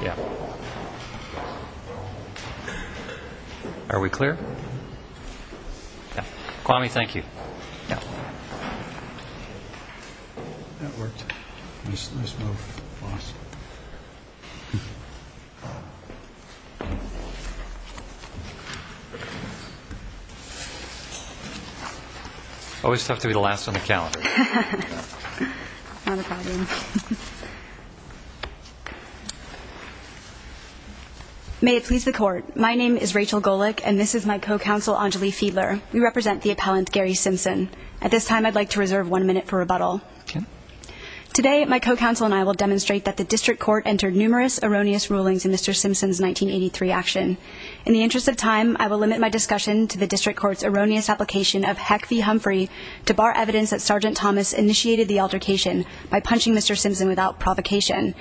Yeah. Are we clear? Kwame, thank you. Always tough to be the last on the calendar. May it please the court. My name is Rachel Golick and this is my co-counsel Anjali Fiedler. We represent the appellant Gary Simpson. At this time, I'd like to reserve one minute for rebuttal. Okay. Today, my co-counsel and I will demonstrate that the district court entered numerous erroneous rulings in Mr. Simpson's 1983 action. In the interest of time, I will limit my discussion to the district court's erroneous application of Heck v. Humphrey to bar evidence that Sgt. Thomas initiated the altercation by punching Mr. Simpson without provocation.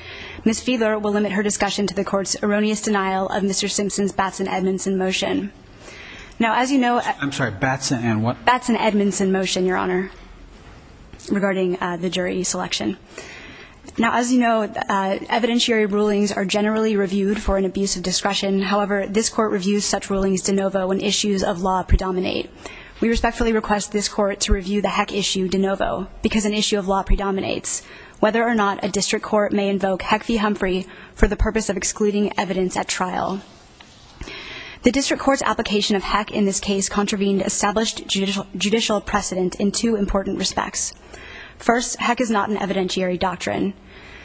Ms. Fiedler will limit her discussion to the court's erroneous denial of Mr. Simpson's Batson-Edmondson motion. Now, as you know... I'm sorry. Batson and what? Batson-Edmondson motion, Your Honor, regarding the jury selection. Now, as you know, evidentiary rulings are generally reviewed for an abuse of discretion. However, this court reviews such rulings de novo when issues of law predominate. We respectfully request this court to review the Heck issue de novo because an issue of law predominates. Whether or not a district court may invoke Heck v. Humphrey for the purpose of excluding evidence at trial. The district court's application of Heck in this case contravened established judicial precedent in two important respects. First, Heck is not an evidentiary doctrine.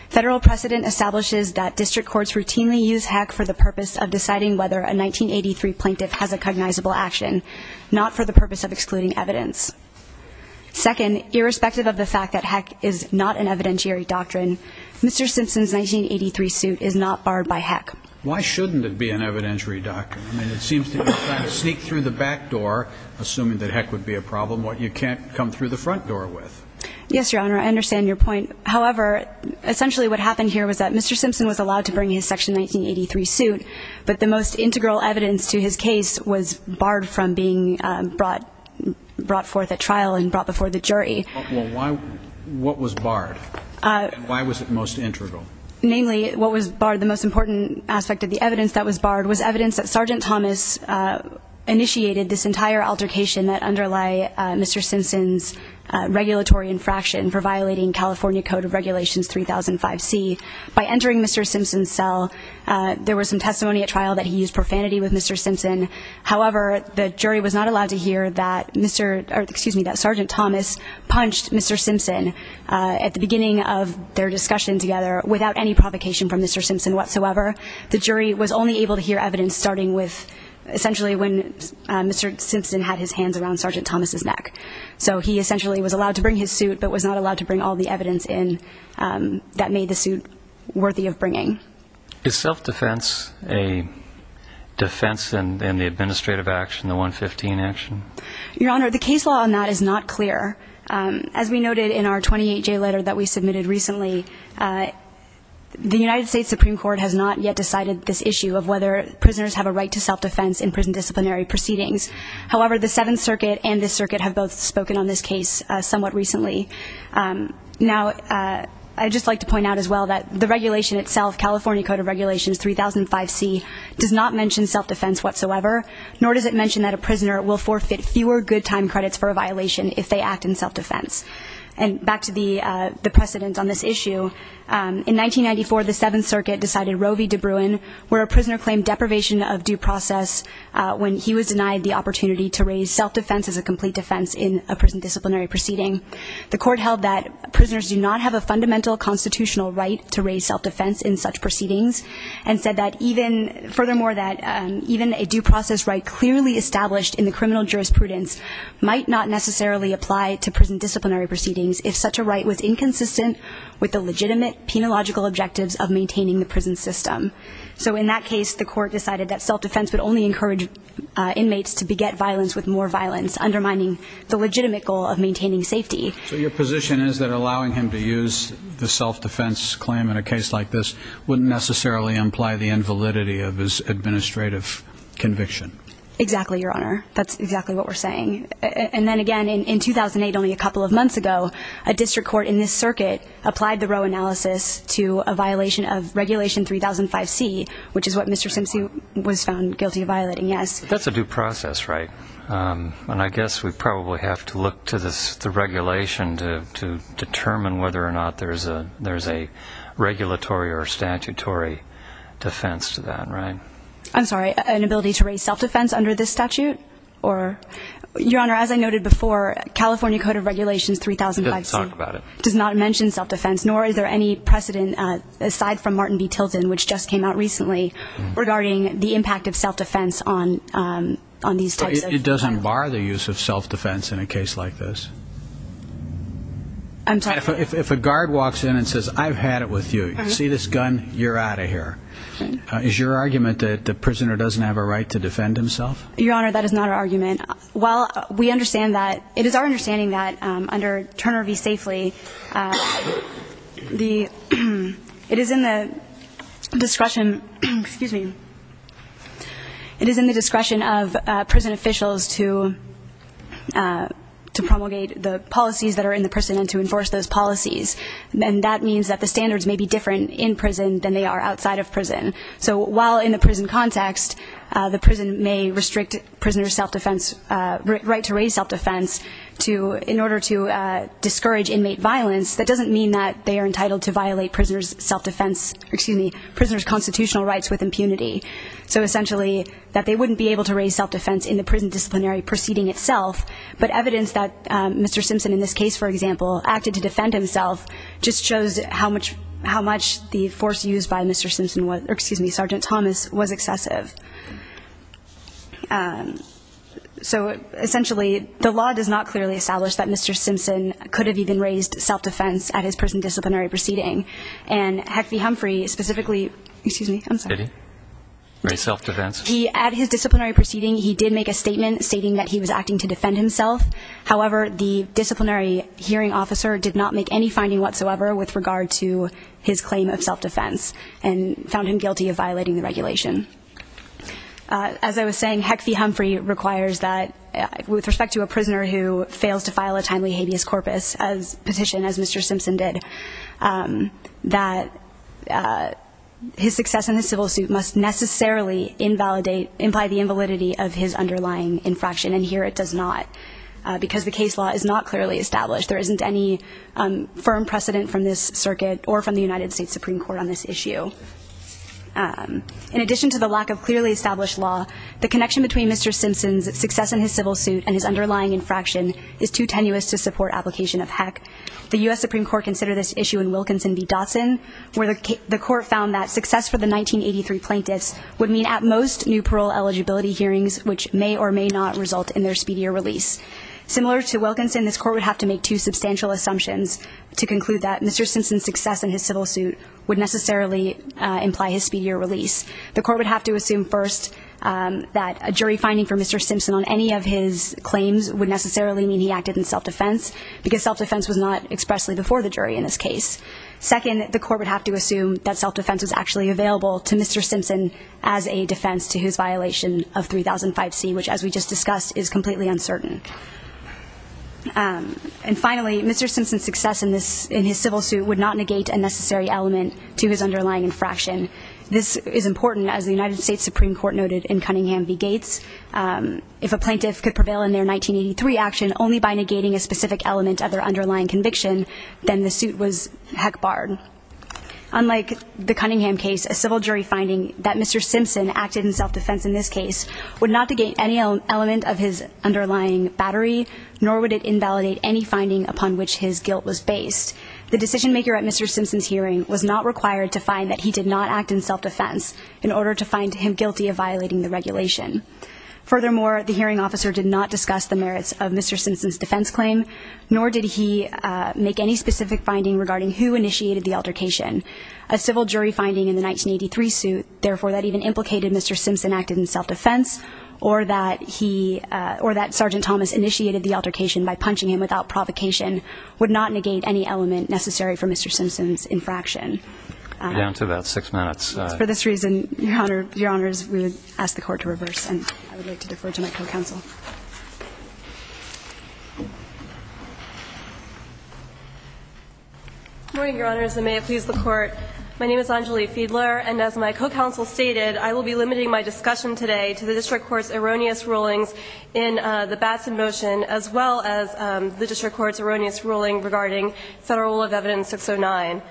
Federal precedent establishes that district courts routinely use Heck for the purpose of deciding whether a 1983 plaintiff has a cognizable action. Not for the purpose of excluding evidence. Second, irrespective of the fact that Heck is not an evidentiary doctrine, Mr. Simpson's 1983 suit is not barred by Heck. Why shouldn't it be an evidentiary doctrine? I mean, it seems to be trying to sneak through the back door, assuming that Heck would be a problem. What you can't come through the front door with. Yes, Your Honor, I understand your point. However, essentially what happened here was that Mr. Simpson was allowed to bring his Section 1983 suit. But the most integral evidence to his case was barred from being brought forth at trial and brought before the jury. What was barred? And why was it most integral? Namely, what was barred, the most important aspect of the evidence that was barred, was evidence that Sergeant Thomas initiated this entire altercation that underlie Mr. Simpson's regulatory infraction for violating California Code of Regulations 3005C. By entering Mr. Simpson's cell, there was some testimony at trial that he used profanity with Mr. Simpson. However, the jury was not allowed to hear that Sergeant Thomas punched Mr. Simpson at the beginning of their discussion together without any provocation from Mr. Simpson whatsoever. The jury was only able to hear evidence starting with essentially when Mr. Simpson had his hands around Sergeant Thomas's neck. So he essentially was allowed to bring his suit but was not allowed to bring all the evidence in that made the suit worthy of bringing. Is self-defense a defense in the administrative action, the 115 action? Your Honor, the case law on that is not clear. As we noted in our 28-J letter that we submitted recently, the United States Supreme Court has not yet decided this issue of whether prisoners have a right to self-defense in prison disciplinary proceedings. However, the Seventh Circuit and this circuit have both spoken on this case somewhat recently. Now, I'd just like to point out as well that the regulation itself, California Code of Regulations 3005C, does not mention self-defense whatsoever, nor does it mention that a prisoner will forfeit fewer good time credits for a violation if they act in self-defense. And back to the precedent on this issue, in 1994, the Seventh Circuit decided Roe v. DeBruin, where a prisoner claimed deprivation of due process when he was denied the opportunity to raise self-defense as a complete defense in a prison disciplinary proceeding. The court held that prisoners do not have a fundamental constitutional right to raise self-defense in such proceedings and said that even, furthermore, that even a due process right clearly established in the criminal jurisprudence might not necessarily apply to prison disciplinary proceedings if such a right was inconsistent with the legitimate penological objectives of maintaining the prison system. So in that case, the court decided that self-defense would only encourage inmates to beget violence with more violence, undermining the legitimate goal of maintaining safety. So your position is that allowing him to use the self-defense claim in a case like this wouldn't necessarily imply the invalidity of his administrative conviction? Exactly, Your Honor. That's exactly what we're saying. And then again, in 2008, only a couple of months ago, a district court in this circuit applied the Roe analysis to a violation of Regulation 3005C, which is what Mr. Simpson was found guilty of violating, yes. That's a due process, right? And I guess we probably have to look to the regulation to determine whether or not there's a regulatory or statutory defense to that, right? I'm sorry, an ability to raise self-defense under this statute? Your Honor, as I noted before, California Code of Regulations 3005C does not mention self-defense, nor is there any precedent aside from Martin v. Tilton, which just came out recently, regarding the impact of self-defense on these types of crimes. It doesn't bar the use of self-defense in a case like this? I'm sorry? If a guard walks in and says, I've had it with you, see this gun? You're out of here. Is your argument that the prisoner doesn't have a right to defend himself? Your Honor, that is not our argument. While we understand that, it is our understanding that under Turner v. Safely, it is in the discretion of prison officials to promulgate the policies that are in the prison and to enforce those policies. And that means that the standards may be different in prison than they are outside of prison. So while in the prison context, the prison may restrict prisoners' self-defense, right to raise self-defense in order to discourage inmate violence, that doesn't mean that they are entitled to violate prisoners' self-defense, excuse me, prisoners' constitutional rights with impunity. So essentially, that they wouldn't be able to raise self-defense in the prison disciplinary proceeding itself, but evidence that Mr. Simpson in this case, for example, acted to defend himself, just shows how much the force used by Mr. Simpson was, or excuse me, Sergeant Thomas, was excessive. So essentially, the law does not clearly establish that Mr. Simpson could have even raised self-defense at his prison disciplinary proceeding. And Heck v. Humphrey specifically, excuse me, I'm sorry. Did he? Raise self-defense? At his disciplinary proceeding, he did make a statement stating that he was acting to defend himself. However, the disciplinary hearing officer did not make any finding whatsoever with regard to his claim of self-defense and found him guilty of violating the regulation. As I was saying, Heck v. Humphrey requires that with respect to a prisoner who fails to file a timely habeas corpus petition, as Mr. Simpson did, that his success in the civil suit must necessarily imply the invalidity of his underlying infraction, and here it does not because the case law is not clearly established. There isn't any firm precedent from this circuit or from the United States Supreme Court on this issue. In addition to the lack of clearly established law, the connection between Mr. Simpson's success in his civil suit and his underlying infraction is too tenuous to support application of Heck. The U.S. Supreme Court considered this issue in Wilkinson v. Dotson, where the court found that success for the 1983 plaintiffs would mean at most new parole eligibility hearings, which may or may not result in their speedier release. Similar to Wilkinson, this court would have to make two substantial assumptions to conclude that Mr. Simpson's success in his civil suit would necessarily imply his speedier release. The court would have to assume first that a jury finding for Mr. Simpson on any of his claims would necessarily mean he acted in self-defense because self-defense was not expressly before the jury in this case. Second, the court would have to assume that self-defense was actually available to Mr. Simpson as a defense to his violation of 3005C, which as we just discussed is completely uncertain. And finally, Mr. Simpson's success in his civil suit would not negate a necessary element to his underlying infraction. This is important, as the United States Supreme Court noted in Cunningham v. Gates. If a plaintiff could prevail in their 1983 action only by negating a specific element of their underlying conviction, then the suit was heck barred. Unlike the Cunningham case, a civil jury finding that Mr. Simpson acted in self-defense in this case would not negate any element of his underlying battery, nor would it invalidate any finding upon which his guilt was based. The decision-maker at Mr. Simpson's hearing was not required to find that he did not act in self-defense in order to find him guilty of violating the regulation. Furthermore, the hearing officer did not discuss the merits of Mr. Simpson's defense claim, nor did he make any specific finding regarding who initiated the altercation. A civil jury finding in the 1983 suit, therefore, that even implicated Mr. Simpson acted in self-defense or that Sergeant Thomas initiated the altercation by punching him without provocation, would not negate any element necessary for Mr. Simpson's infraction. We're down to about six minutes. For this reason, Your Honors, we would ask the Court to reverse, and I would like to defer to my co-counsel. Good morning, Your Honors, and may it please the Court. My name is Anjali Fiedler, and as my co-counsel stated, I will be limiting my discussion today to the district court's erroneous rulings in the Batson motion as well as the district court's erroneous ruling regarding Federal Rule of Evidence 609.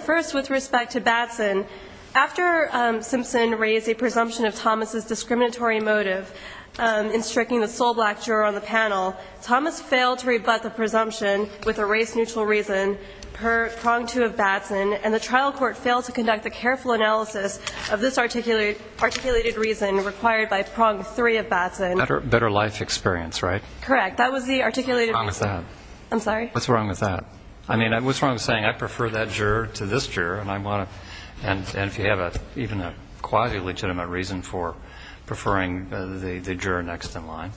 First, with respect to Batson, after Simpson raised a presumption of Thomas' discriminatory motive in striking the sole black juror on the panel, Thomas failed to rebut the presumption with a race-neutral reason per Prong 2 of Batson, and the trial court failed to conduct a careful analysis of this articulated reason required by Prong 3 of Batson. Better life experience, right? Correct. That was the articulated reason. What's wrong with that? I'm sorry? What's wrong with that? I mean, what's wrong with saying I prefer that juror to this juror, and if you have even a quasi-legitimate reason for preferring the juror next in line?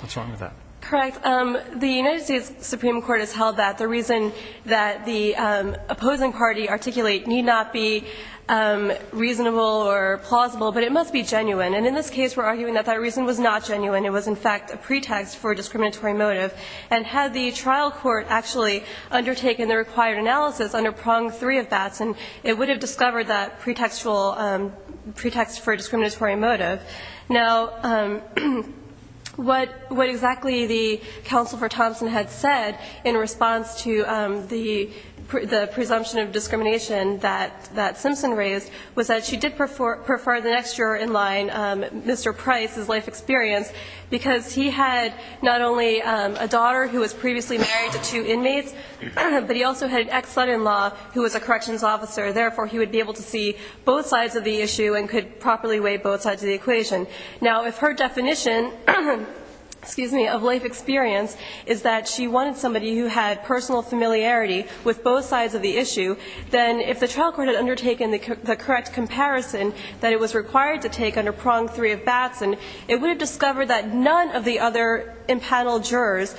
What's wrong with that? Correct. The United States Supreme Court has held that the reason that the opposing party articulate need not be reasonable or plausible, but it must be genuine. And in this case, we're arguing that that reason was not genuine. It was, in fact, a pretext for a discriminatory motive. And had the trial court actually undertaken the required analysis under Prong 3 of Batson, it would have discovered that pretext for a discriminatory motive. Now, what exactly the counsel for Thompson had said in response to the presumption of discrimination that Simpson raised was that she did prefer the next juror in line, Mr. Price's life experience, because he had not only a daughter who was previously married to two inmates, but he also had an ex-son-in-law who was a corrections officer. Therefore, he would be able to see both sides of the issue and could properly weigh both sides of the equation. Now, if her definition, excuse me, of life experience is that she wanted somebody who had personal familiarity with both sides of the issue, then if the trial court had undertaken the correct comparison that it was required to take under Prong 3 of Batson, it would have discovered that none of the other impaneled jurors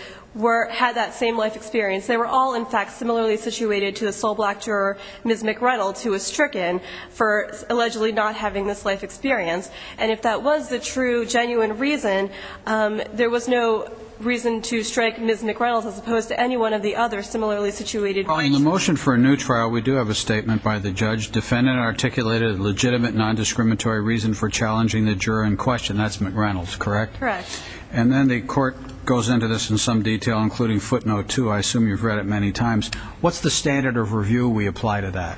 had that same life experience. They were all, in fact, similarly situated to the sole black juror, Ms. McReynolds, who was stricken for allegedly not having this life experience. And if that was the true, genuine reason, there was no reason to strike Ms. McReynolds as opposed to any one of the other similarly situated jurors. Well, in the motion for a new trial, we do have a statement by the judge. Defendant articulated a legitimate nondiscriminatory reason for challenging the juror in question. That's McReynolds, correct? Correct. And then the court goes into this in some detail, including footnote 2. I assume you've read it many times. What's the standard of review we apply to that?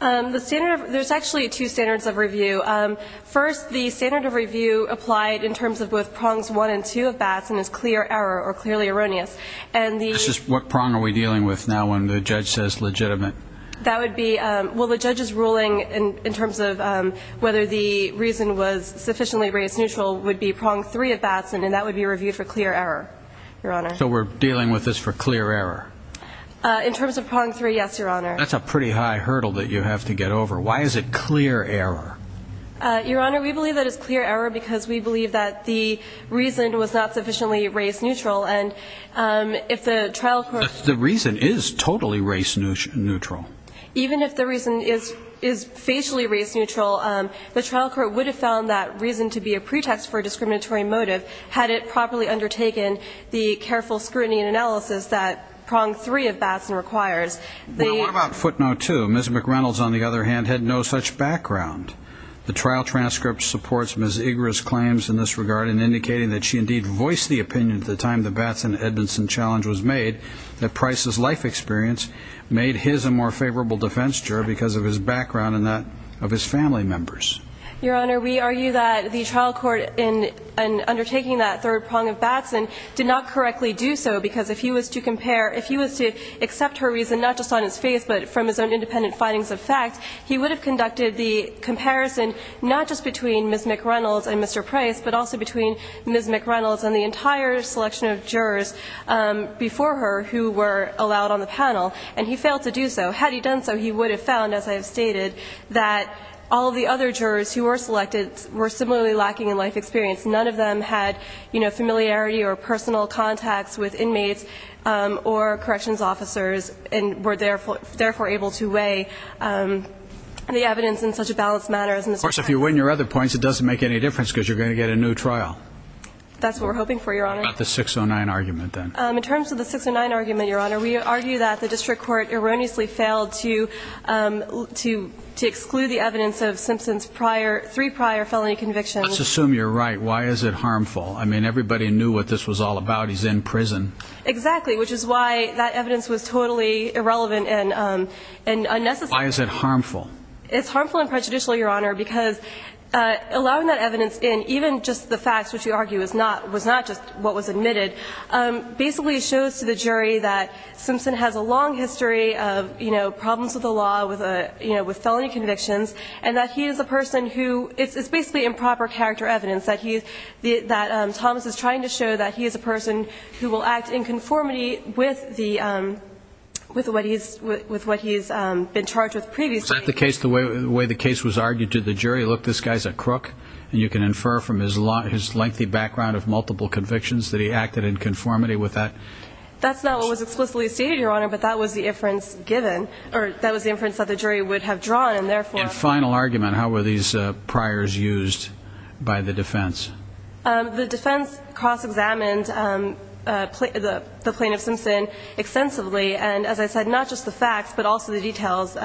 The standard of review, there's actually two standards of review. First, the standard of review applied in terms of both Prongs 1 and 2 of Batson is clear error or clearly erroneous. What prong are we dealing with now when the judge says legitimate? Well, the judge's ruling in terms of whether the reason was sufficiently race neutral would be Prong 3 of Batson, and that would be reviewed for clear error, Your Honor. So we're dealing with this for clear error? In terms of Prong 3, yes, Your Honor. That's a pretty high hurdle that you have to get over. Why is it clear error? Your Honor, we believe that it's clear error because we believe that the reason was not The reason is totally race neutral. Even if the reason is facially race neutral, the trial court would have found that reason to be a pretext for a discriminatory motive had it properly undertaken the careful scrutiny and analysis that Prong 3 of Batson requires. What about footnote 2? Ms. McReynolds, on the other hand, had no such background. The trial transcript supports Ms. Igres' claims in this regard in indicating that she indeed voiced the opinion at the time the Batson-Edmondson challenge was made that Price's life experience made his a more favorable defense juror because of his background and that of his family members. Your Honor, we argue that the trial court in undertaking that third Prong of Batson did not correctly do so because if he was to compare, if he was to accept her reason not just on his face but from his own independent findings of fact, he would have conducted the comparison not just between Ms. McReynolds and Mr. Price but also between Ms. McReynolds and the entire selection of jurors before her who were allowed on the panel, and he failed to do so. Had he done so, he would have found, as I have stated, that all of the other jurors who were selected were similarly lacking in life experience. None of them had, you know, familiarity or personal contacts with inmates or corrections officers and were therefore able to weigh the evidence in such a balanced manner as Mr. Price. Of course, if you win your other points, it doesn't make any difference because you're going to get a new trial. That's what we're hoping for, Your Honor. What about the 609 argument then? In terms of the 609 argument, Your Honor, we argue that the district court erroneously failed to exclude the evidence of Simpson's three prior felony convictions. Let's assume you're right. Why is it harmful? I mean, everybody knew what this was all about. He's in prison. Exactly, which is why that evidence was totally irrelevant and unnecessary. Why is it harmful? It's harmful and prejudicial, Your Honor, because allowing that evidence in, even just the facts which we argue was not just what was admitted, basically shows to the jury that Simpson has a long history of, you know, problems with the law with felony convictions and that he is a person who – it's basically improper character evidence that Thomas is trying to show that he is a person who will act in conformity with what he's been charged with previously. Is that the case, the way the case was argued to the jury, look, this guy's a crook, and you can infer from his lengthy background of multiple convictions that he acted in conformity with that? That's not what was explicitly stated, Your Honor, but that was the inference given, or that was the inference that the jury would have drawn, and therefore – In final argument, how were these priors used by the defense? The defense cross-examined the plaintiff Simpson extensively, and as I said, not just the facts but also the details.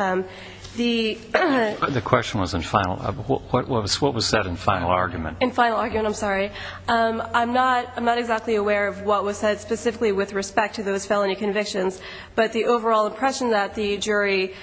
The question was in final – what was said in final argument? In final argument, I'm sorry. I'm not exactly aware of what was said specifically with respect to those felony convictions, but the overall impression that the jury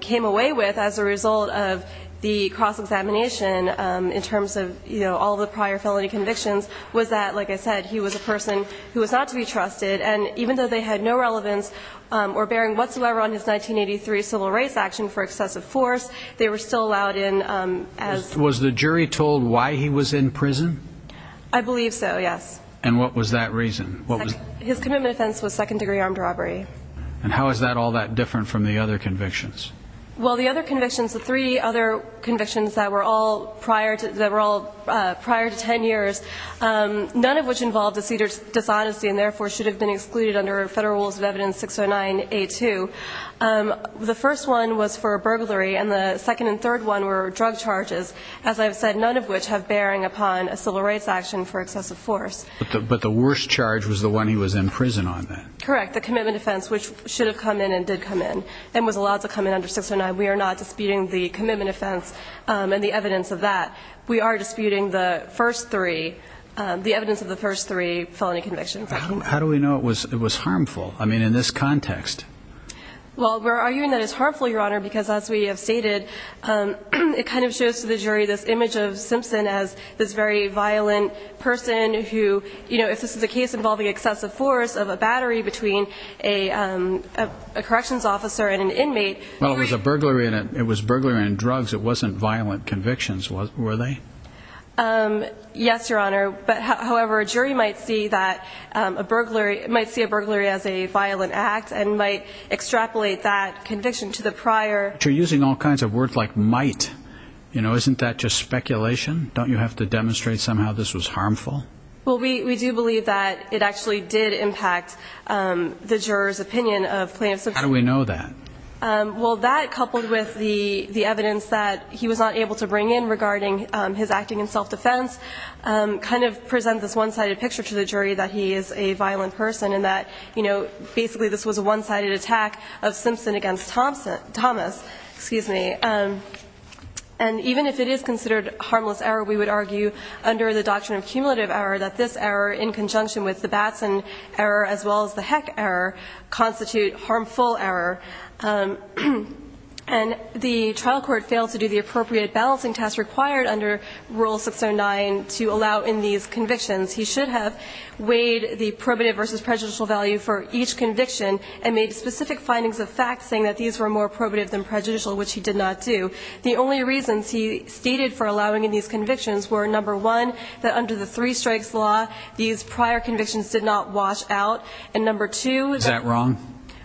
came away with as a result of the cross-examination in terms of, you know, all the prior felony convictions was that, like I said, he was a person who was not to be trusted, and even though they had no relevance or bearing whatsoever on his 1983 civil rights action for excessive force, they were still allowed in as – Was the jury told why he was in prison? I believe so, yes. And what was that reason? His commitment offense was second-degree armed robbery. And how is that all that different from the other convictions? Well, the other convictions, the three other convictions that were all prior to – none of which involved a cedars dishonesty and therefore should have been excluded under Federal Rules of Evidence 609A2. The first one was for burglary, and the second and third one were drug charges. As I've said, none of which have bearing upon a civil rights action for excessive force. But the worst charge was the one he was in prison on then. Correct, the commitment offense, which should have come in and did come in and was allowed to come in under 609. We are not disputing the commitment offense and the evidence of that. We are disputing the first three, the evidence of the first three felony convictions. How do we know it was harmful? I mean, in this context. Well, we're arguing that it's harmful, Your Honor, because as we have stated, it kind of shows to the jury this image of Simpson as this very violent person who, you know, if this is a case involving excessive force of a battery between a corrections officer and an inmate – it was burglary and drugs. It wasn't violent convictions, were they? Yes, Your Honor. However, a jury might see a burglary as a violent act and might extrapolate that conviction to the prior. But you're using all kinds of words like might. You know, isn't that just speculation? Don't you have to demonstrate somehow this was harmful? Well, we do believe that it actually did impact the juror's opinion of plaintiff Simpson. How do we know that? Well, that coupled with the evidence that he was not able to bring in regarding his acting in self-defense kind of presents this one-sided picture to the jury that he is a violent person and that, you know, basically this was a one-sided attack of Simpson against Thomas. Excuse me. And even if it is considered a harmless error, we would argue under the doctrine of cumulative error that this error, in conjunction with the Batson error as well as the Heck error, constitute harmful error. And the trial court failed to do the appropriate balancing task required under Rule 609 to allow in these convictions. He should have weighed the probative versus prejudicial value for each conviction and made specific findings of fact saying that these were more probative than prejudicial, which he did not do. The only reasons he stated for allowing in these convictions were, number one, that under the three-strikes law these prior convictions did not wash out. And, number two,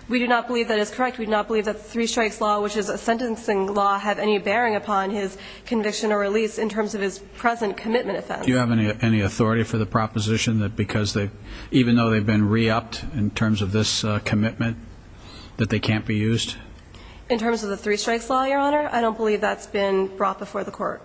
we do not believe that is correct. We do not believe that the three-strikes law, which is a sentencing law, have any bearing upon his conviction or release in terms of his present commitment offense. Do you have any authority for the proposition that because they've, even though they've been re-upped in terms of this commitment, that they can't be used? In terms of the three-strikes law, Your Honor, I don't believe that's been brought before the court.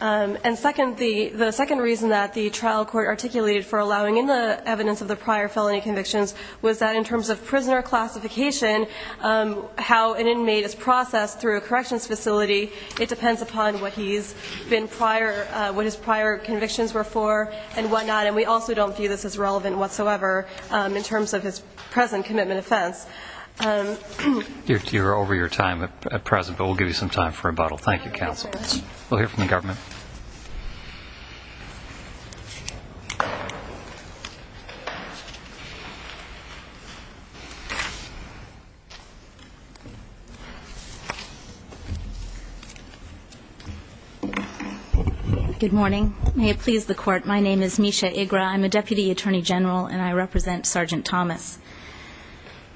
And second, the second reason that the trial court articulated for allowing in the evidence of the prior felony convictions was that in terms of prisoner classification, how an inmate is processed through a corrections facility, it depends upon what he's been prior, what his prior convictions were for and whatnot. And we also don't view this as relevant whatsoever in terms of his present commitment offense. You're over your time at present, but we'll give you some time for rebuttal. Thank you, counsel. We'll hear from the government. Good morning. May it please the court, my name is Misha Igra. I'm a deputy attorney general, and I represent Sergeant Thomas.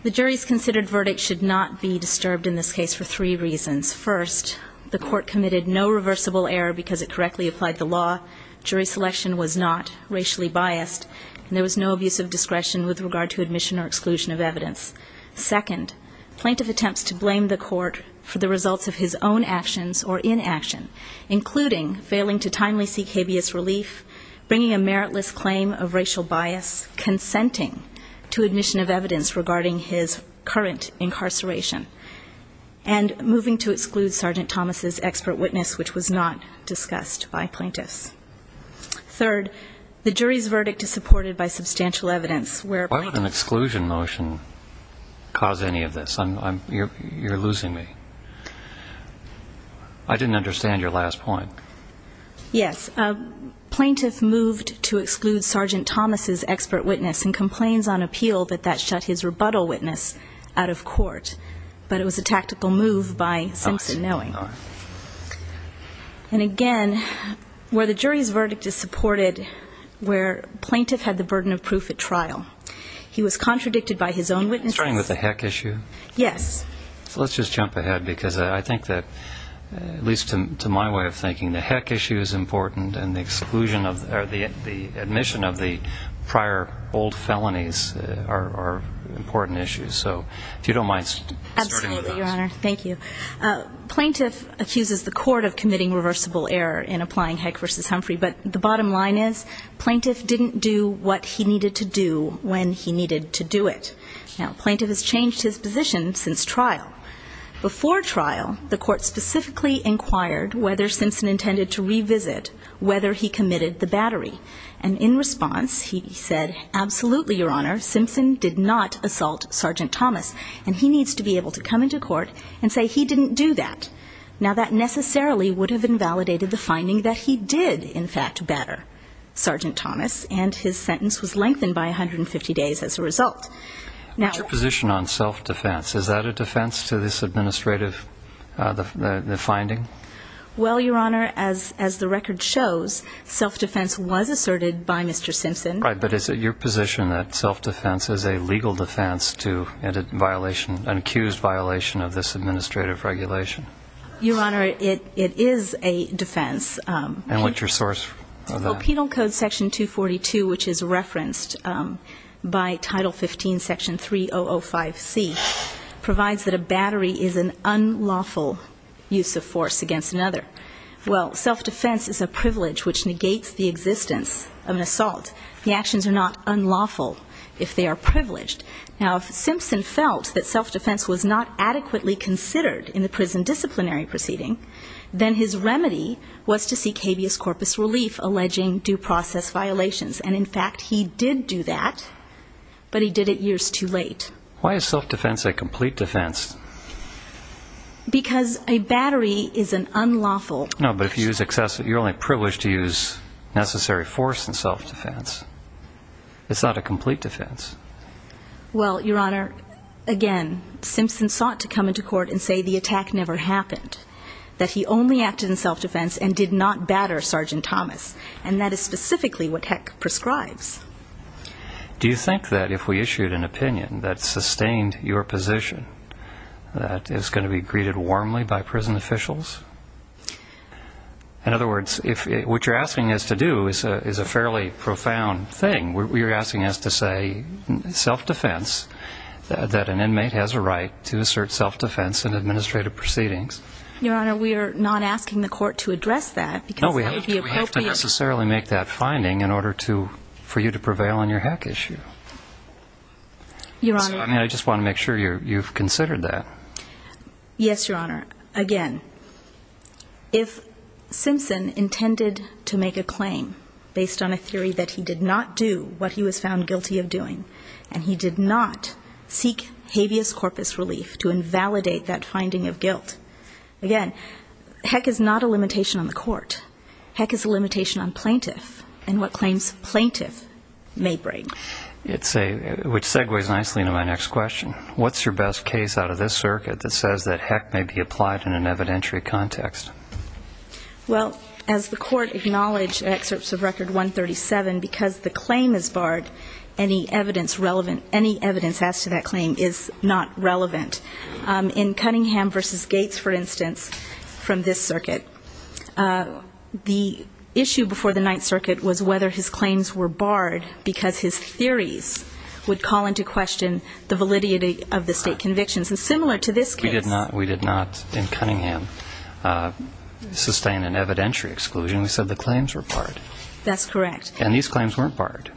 The jury's considered verdict should not be disturbed in this case for three reasons. First, the court committed no reversible error because it correctly applied the law. Jury selection was not racially biased, and there was no abuse of discretion with regard to admission or exclusion of evidence. Second, plaintiff attempts to blame the court for the results of his own actions or inaction, including failing to timely seek habeas relief, bringing a meritless claim of racial bias, consenting to admission of evidence regarding his current incarceration, and moving to exclude Sergeant Thomas' expert witness, which was not discussed by plaintiffs. Third, the jury's verdict is supported by substantial evidence where plaintiffs. Why would an exclusion motion cause any of this? You're losing me. I didn't understand your last point. Yes. Plaintiff moved to exclude Sergeant Thomas' expert witness and complains on appeal that that shut his rebuttal witness out of court. But it was a tactical move by Simpson knowing. All right. And, again, where the jury's verdict is supported, where plaintiff had the burden of proof at trial, he was contradicted by his own witnesses. Starting with the heck issue? Yes. So let's just jump ahead, because I think that, at least to my way of thinking, the heck issue is important and the exclusion of or the admission of the prior old felonies are important issues. So if you don't mind starting with that. Absolutely, Your Honor. Thank you. Plaintiff accuses the court of committing reversible error in applying Heck v. Humphrey, but the bottom line is plaintiff didn't do what he needed to do when he needed to do it. Now, plaintiff has changed his position since trial. Before trial, the court specifically inquired whether Simpson intended to revisit whether he committed the battery. And in response, he said, absolutely, Your Honor, Simpson did not assault Sergeant Thomas, and he needs to be able to come into court and say he didn't do that. Now, that necessarily would have invalidated the finding that he did, in fact, batter Sergeant Thomas, and his sentence was lengthened by 150 days as a result. What's your position on self-defense? Is that a defense to this administrative finding? Well, Your Honor, as the record shows, self-defense was asserted by Mr. Simpson. Right, but is it your position that self-defense is a legal defense to an accused violation of this administrative regulation? Your Honor, it is a defense. And what's your source of that? Well, Penal Code Section 242, which is referenced by Title 15, Section 3005C, provides that a battery is an unlawful use of force against another. Well, self-defense is a privilege which negates the existence of an assault. The actions are not unlawful if they are privileged. Now, if Simpson felt that self-defense was not adequately considered in the prison disciplinary proceeding, then his remedy was to seek habeas corpus relief, alleging due process violations. And, in fact, he did do that, but he did it years too late. Why is self-defense a complete defense? Because a battery is an unlawful use. No, but if you use excessive, you're only privileged to use necessary force in self-defense. It's not a complete defense. Well, Your Honor, again, Simpson sought to come into court and say the attack never happened, that he only acted in self-defense and did not batter Sergeant Thomas, and that is specifically what Heck prescribes. Do you think that if we issued an opinion that sustained your position that it's going to be greeted warmly by prison officials? In other words, what you're asking us to do is a fairly profound thing. You're asking us to say self-defense, that an inmate has a right to assert self-defense in administrative proceedings. Your Honor, we are not asking the court to address that because that would be appropriate. No, we have to necessarily make that finding in order for you to prevail on your Heck issue. I just want to make sure you've considered that. Yes, Your Honor. Your Honor, again, if Simpson intended to make a claim based on a theory that he did not do what he was found guilty of doing and he did not seek habeas corpus relief to invalidate that finding of guilt, again, Heck is not a limitation on the court. Heck is a limitation on plaintiff and what claims plaintiff may bring. Which segues nicely into my next question. What's your best case out of this circuit that says that Heck may be applied in an evidentiary context? Well, as the court acknowledged in excerpts of Record 137, because the claim is barred, any evidence relevant, any evidence as to that claim is not relevant. In Cunningham v. Gates, for instance, from this circuit, the issue before the Ninth Circuit was whether his claims were barred because his theories would call into question the validity of the state convictions. And similar to this case. We did not, in Cunningham, sustain an evidentiary exclusion. We said the claims were barred. That's correct. And these claims weren't barred.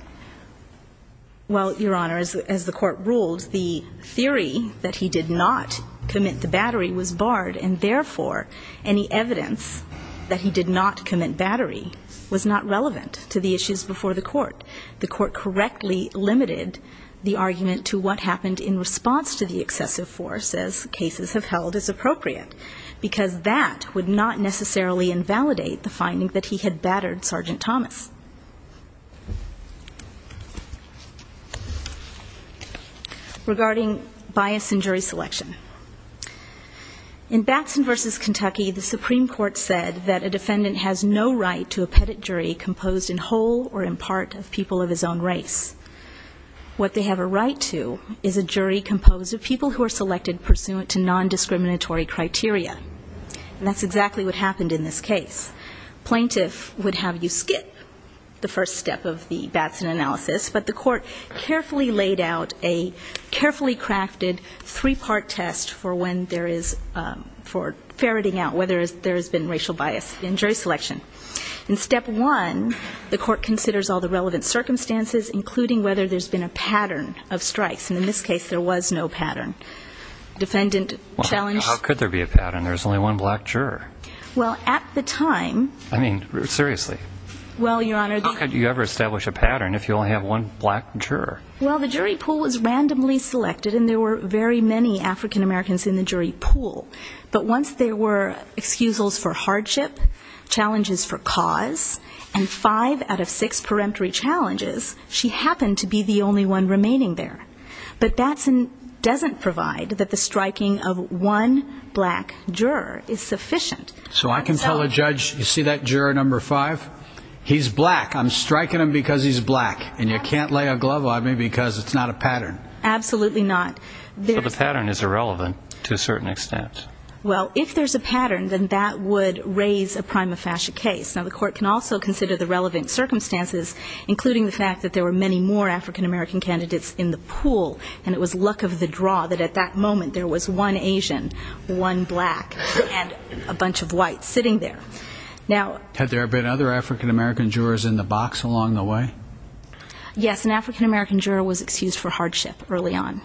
Well, Your Honor, as the court ruled, the theory that he did not commit the battery was barred and, therefore, any evidence that he did not commit battery was not relevant to the issues before the court. The court correctly limited the argument to what happened in response to the excessive force, as cases have held as appropriate, because that would not necessarily invalidate the finding that he had battered Sergeant Thomas. Regarding bias in jury selection. In Batson v. Kentucky, the Supreme Court said that a defendant has no right to a pettit jury composed in whole or in part of people of his own race. What they have a right to is a jury composed of people who are selected pursuant to nondiscriminatory criteria. And that's exactly what happened in this case. Plaintiff would have you skip the first step of the Batson analysis, but the court carefully laid out a carefully crafted three-part test for when there is, for ferreting out whether there has been racial bias in jury selection. In step one, the court considers all the relevant circumstances, including whether there's been a pattern of strikes. And in this case, there was no pattern. Defendant challenged. Well, how could there be a pattern? There's only one black juror. Well, at the time. I mean, seriously. Well, Your Honor. How could you ever establish a pattern if you only have one black juror? Well, the jury pool was randomly selected, and there were very many African-Americans in the jury pool. But once there were excusals for hardship, challenges for cause, and five out of six peremptory challenges, she happened to be the only one remaining there. But Batson doesn't provide that the striking of one black juror is sufficient. So I can tell a judge, you see that juror number five? He's black. I'm striking him because he's black. And you can't lay a glove on me because it's not a pattern. Absolutely not. So the pattern is irrelevant to a certain extent. Well, if there's a pattern, then that would raise a prima facie case. Now, the court can also consider the relevant circumstances, including the fact that there were many more African-American candidates in the pool, and it was luck of the draw that at that moment there was one Asian, one black, and a bunch of whites sitting there. Had there been other African-American jurors in the box along the way? Yes, an African-American juror was excused for hardship early on.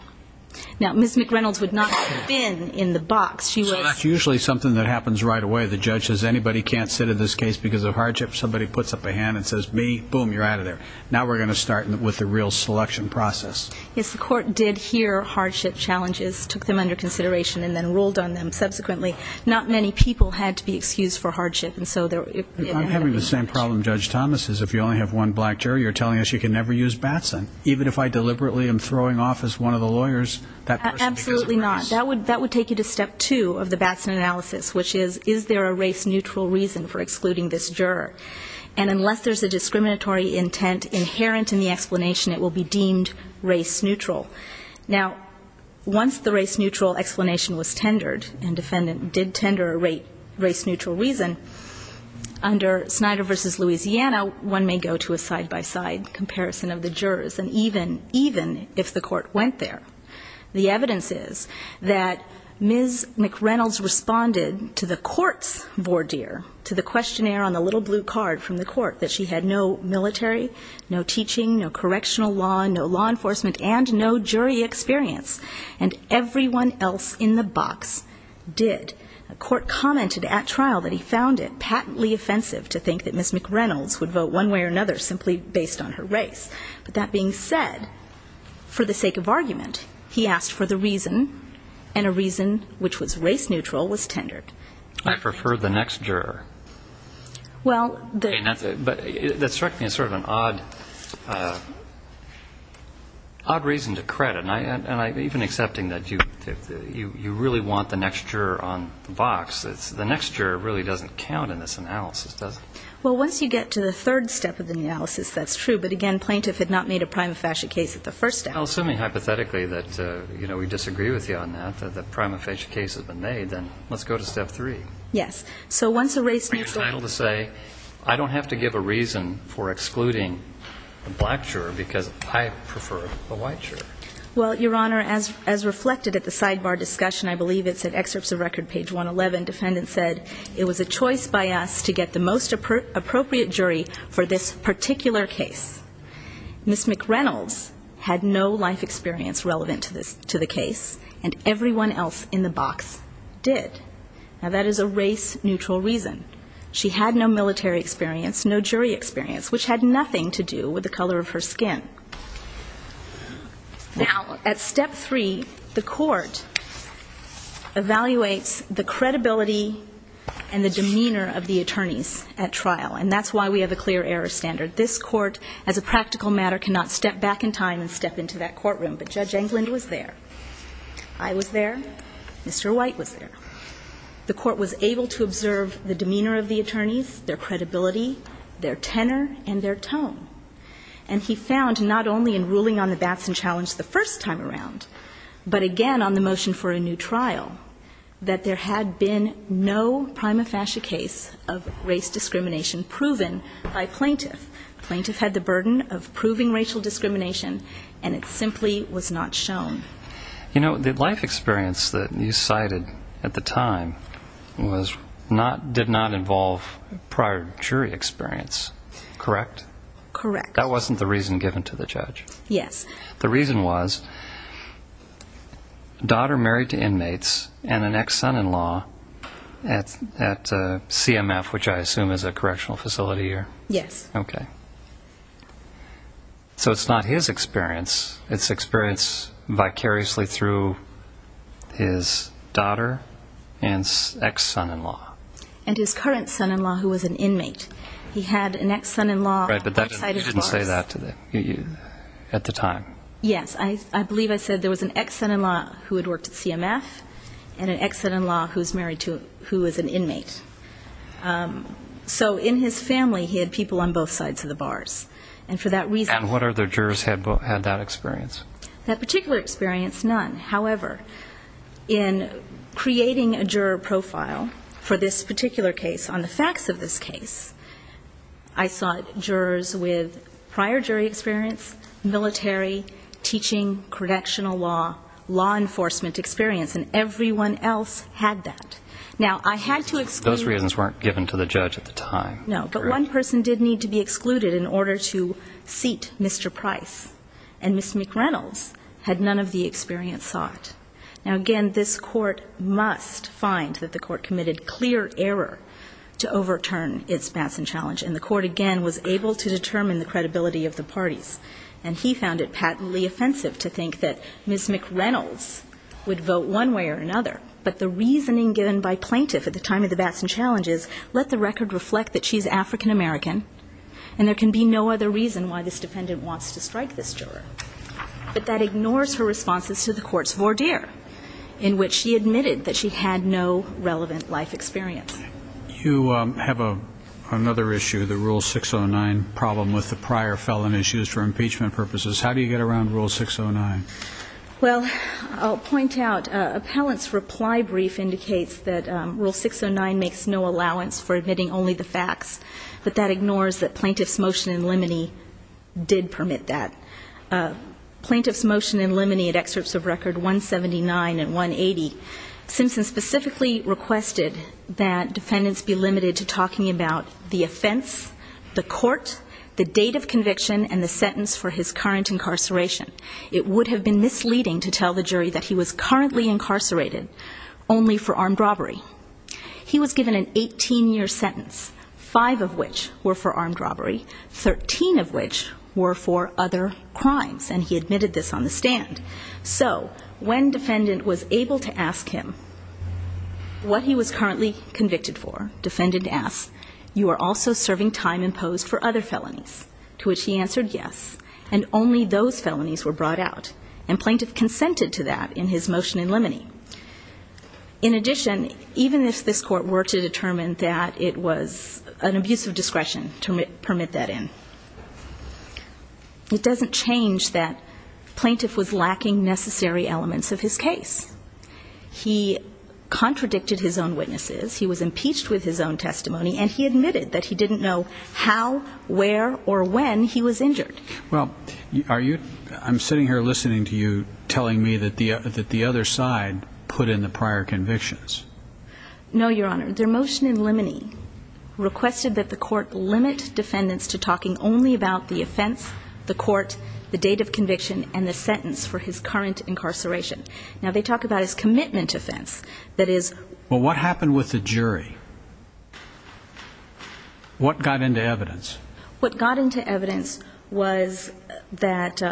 Now, Ms. McReynolds would not have been in the box. So that's usually something that happens right away. The judge says anybody can't sit in this case because of hardship. Somebody puts up a hand and says, me, boom, you're out of there. Now we're going to start with the real selection process. Yes, the court did hear hardship challenges, took them under consideration, and then ruled on them subsequently. Not many people had to be excused for hardship. I'm having the same problem, Judge Thomas, is if you only have one black juror, you're telling us you can never use Batson. Even if I deliberately am throwing off as one of the lawyers, that person becomes a racist. Absolutely not. That would take you to step two of the Batson analysis, which is, is there a race-neutral reason for excluding this juror? And unless there's a discriminatory intent inherent in the explanation, it will be deemed race-neutral. Now, once the race-neutral explanation was tendered and defendant did tender a race-neutral reason, under Snyder v. Louisiana, one may go to a side-by-side comparison of the jurors, and even if the court went there. The evidence is that Ms. McReynolds responded to the court's voir dire, to the questionnaire on the little blue card from the court, that she had no military, no teaching, no correctional law, no law enforcement, and no jury experience. And everyone else in the box did. The court commented at trial that he found it patently offensive to think that Ms. McReynolds would vote one way or another simply based on her race. But that being said, for the sake of argument, he asked for the reason, and a reason which was race-neutral was tendered. I prefer the next juror. But that struck me as sort of an odd reason to credit. And even accepting that you really want the next juror on the box, the next juror really doesn't count in this analysis, does it? Well, once you get to the third step of the analysis, that's true. But, again, plaintiff had not made a prima facie case at the first step. Well, assuming hypothetically that we disagree with you on that, that the prima facie case has been made, then let's go to step three. Yes. So once a race-neutral. Are you entitled to say I don't have to give a reason for excluding the black juror because I prefer the white juror? Well, Your Honor, as reflected at the sidebar discussion, I believe it's at excerpts of record page 111, defendant said it was a choice by us to get the most appropriate jury for this particular case. Ms. McReynolds had no life experience relevant to the case, and everyone else in the box did. Now, that is a race-neutral reason. She had no military experience, no jury experience, which had nothing to do with the color of her skin. Now, at step three, the court evaluates the credibility and the demeanor of the attorneys at trial, and that's why we have a clear error standard. This court, as a practical matter, cannot step back in time and step into that courtroom. But Judge Englund was there. I was there. Mr. White was there. The court was able to observe the demeanor of the attorneys, their credibility, their tenor, and their tone. And he found not only in ruling on the Batson challenge the first time around, but again on the motion for a new trial, that there had been no prima facie case of race discrimination proven by plaintiff. Plaintiff had the burden of proving racial discrimination, and it simply was not shown. You know, the life experience that you cited at the time did not involve prior jury experience, correct? Correct. That wasn't the reason given to the judge? Yes. The reason was daughter married to inmates and an ex-son-in-law at CMF, which I assume is a correctional facility here? Yes. Okay. So it's not his experience. It's experience vicariously through his daughter and ex-son-in-law. And his current son-in-law, who was an inmate. He had an ex-son-in-law outside his bars. Right, but you didn't say that at the time. Yes. I believe I said there was an ex-son-in-law who had worked at CMF and an ex-son-in-law who was an inmate. So in his family, he had people on both sides of the bars. And for that reason... And what other jurors had that experience? That particular experience, none. However, in creating a juror profile for this particular case on the facts of this case, I sought jurors with prior jury experience, military, teaching, correctional law, law enforcement experience, and everyone else had that. Now, I had to exclude... Those reasons weren't given to the judge at the time. No, but one person did need to be excluded in order to seat Mr. Price. And Ms. McReynolds had none of the experience sought. Now, again, this court must find that the court committed clear error to overturn its Batson challenge. And the court, again, was able to determine the credibility of the parties. And he found it patently offensive to think that Ms. McReynolds would vote one way or another. But the reasoning given by plaintiff at the time of the Batson challenge is, let the record reflect that she's African-American, and there can be no other reason why this defendant wants to strike this juror. But that ignores her responses to the court's voir dire, in which she admitted that she had no relevant life experience. You have another issue, the Rule 609 problem with the prior felon issues for impeachment purposes. How do you get around Rule 609? Well, I'll point out, appellant's reply brief indicates that Rule 609 makes no allowance for admitting only the facts. But that ignores that plaintiff's motion in limine did permit that. Plaintiff's motion in limine at excerpts of Record 179 and 180, Simpson specifically requested that defendants be limited to talking about the offense, the court, the date of conviction, and the sentence for his current incarceration. It would have been misleading to tell the jury that he was currently incarcerated only for armed robbery. He was given an 18-year sentence, five of which were for armed robbery, 13 of which were for other crimes, and he admitted this on the stand. So when defendant was able to ask him what he was currently convicted for, defendant asked, you are also serving time imposed for other felonies, to which he answered yes, and only those felonies were brought out, and plaintiff consented to that in his motion in limine. In addition, even if this court were to determine that it was an abuse of discretion to permit that in, it doesn't change that plaintiff was lacking necessary elements of his case. He contradicted his own witnesses, he was impeached with his own testimony, and he admitted that he didn't know how, where, or when he was injured. Well, are you ñ I'm sitting here listening to you telling me that the other side put in the prior convictions. No, Your Honor. Their motion in limine requested that the court limit defendants to talking only about the offense, the court, the date of conviction, and the sentence for his current incarceration. Now, they talk about his commitment offense, that is ñ Well, what happened with the jury? What got into evidence? What got into evidence was that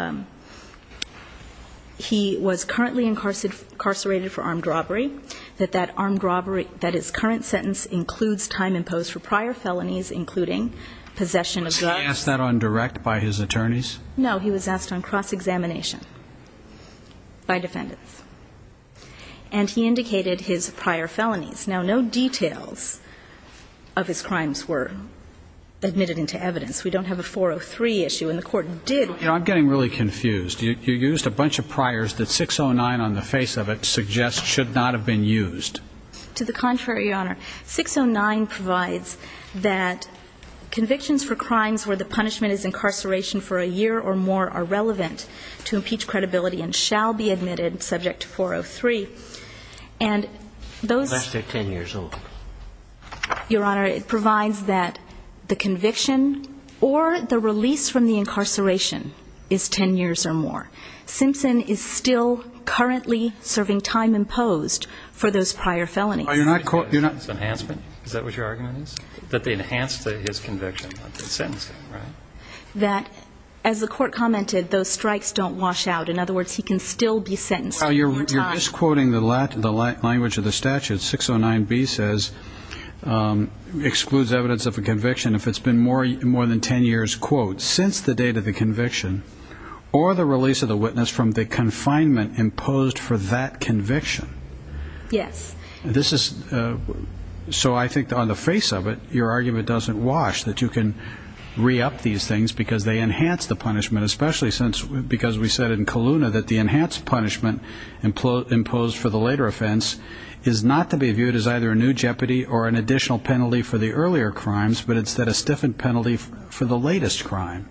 he was currently incarcerated for armed robbery, that that armed robbery ñ that his current sentence includes time imposed for prior felonies, including possession of drugs. Was he asked that on direct by his attorneys? No, he was asked on cross-examination by defendants, and he indicated his prior felonies. Now, no details of his crimes were admitted into evidence. We don't have a 403 issue, and the court did ñ You know, I'm getting really confused. You used a bunch of priors that 609 on the face of it suggests should not have been used. To the contrary, Your Honor. 609 provides that convictions for crimes where the punishment is incarceration for a year or more are relevant to impeach credibility and shall be admitted subject to 403. And those ñ Let's take 10 years old. Your Honor, it provides that the conviction or the release from the incarceration is 10 years or more. Simpson is still currently serving time imposed for those prior felonies. You're not ñ you're not ñ Enhancement? Is that what your argument is? That they enhanced his conviction, not sentenced him, right? That, as the court commented, those strikes don't wash out. In other words, he can still be sentenced. Well, you're misquoting the language of the statute. 609B says, excludes evidence of a conviction if it's been more than 10 years, quote, since the date of the conviction or the release of the witness from the confinement imposed for that conviction. Yes. This is ñ so I think on the face of it, your argument doesn't wash, that you can re-up these things because they enhance the punishment, especially since ñ because we said in Kelowna that the enhanced punishment imposed for the later offense is not to be viewed as either a new jeopardy or an additional penalty for the earlier crimes, but instead a stiffened penalty for the latest crime.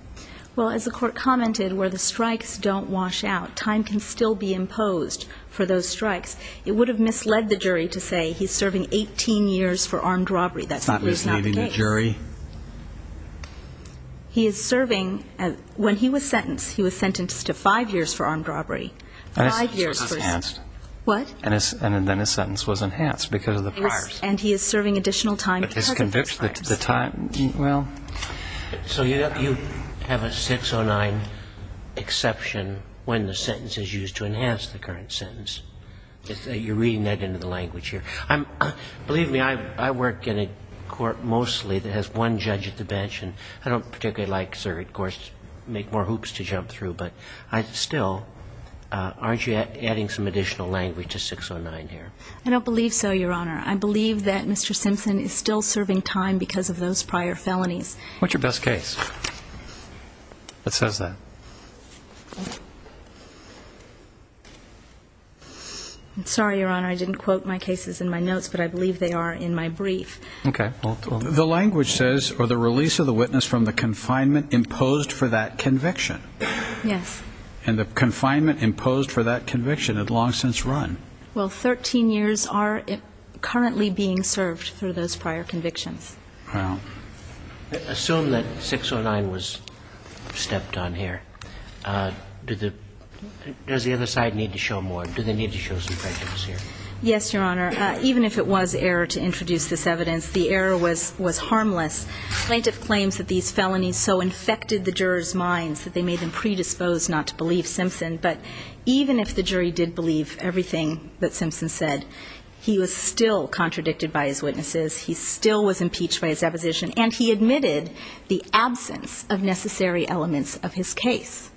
Well, as the court commented, where the strikes don't wash out, time can still be imposed for those strikes. It would have misled the jury to say he's serving 18 years for armed robbery. That's not the case. It's not misleading the jury. He is serving ñ when he was sentenced, he was sentenced to five years for armed robbery. Five years for ñ And his sentence was enhanced. What? And then his sentence was enhanced because of the priors. And he is serving additional time because of those priors. But his conviction, the time ñ well. So you have a 609 exception when the sentence is used to enhance the current sentence. You're reading that into the language here. Believe me, I work in a court mostly that has one judge at the bench, and I don't particularly like circuit courts to make more hoops to jump through. But still, aren't you adding some additional language to 609 here? I don't believe so, Your Honor. I believe that Mr. Simpson is still serving time because of those prior felonies. What's your best case that says that? I'm sorry, Your Honor. I didn't quote my cases in my notes, but I believe they are in my brief. Okay. The language says, ìFor the release of the witness from the confinement imposed for that conviction.î Yes. And the confinement imposed for that conviction had long since run. Well, 13 years are currently being served through those prior convictions. Wow. Assume that 609 was stepped on here. Does the other side need to show more? Do they need to show some prejudice here? Yes, Your Honor. Even if it was error to introduce this evidence, the error was harmless. Plaintiff claims that these felonies so infected the jurors' minds that they made them predisposed not to believe Simpson. But even if the jury did believe everything that Simpson said, he was still contradicted by his witnesses, he still was impeached by his deposition, and he admitted the absence of necessary elements of his case.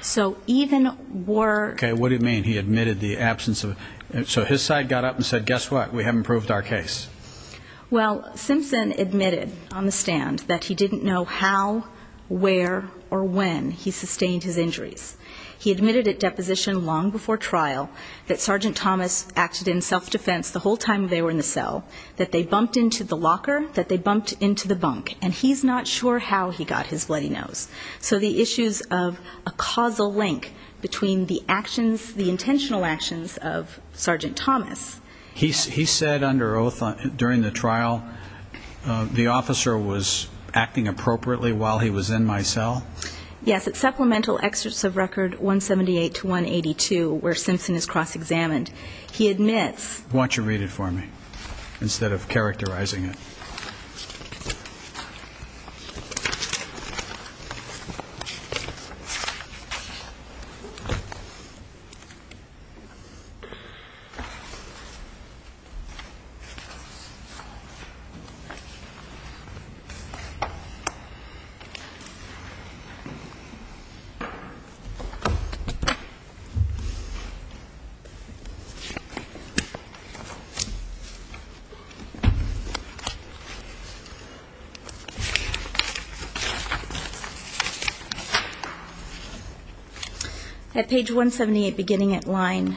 So even wereó Okay. What do you mean he admitted the absence ofó So his side got up and said, ìGuess what. We haven't proved our case.î Well, Simpson admitted on the stand that he didn't know how, where, or when he sustained his injuries. He admitted at deposition long before trial that Sergeant Thomas acted in self-defense the whole time they were in the cell, that they bumped into the locker, that they bumped into the bunk. And he's not sure how he got his bloody nose. So the issues of a causal link between the actions, the intentional actions of Sergeant Thomasó He said under oath during the trial, ìThe officer was acting appropriately while he was in my cell.î Yes, at supplemental excerpts of Record 178 to 182, where Simpson is cross-examined, he admitsó Okay. At page 178, beginning at line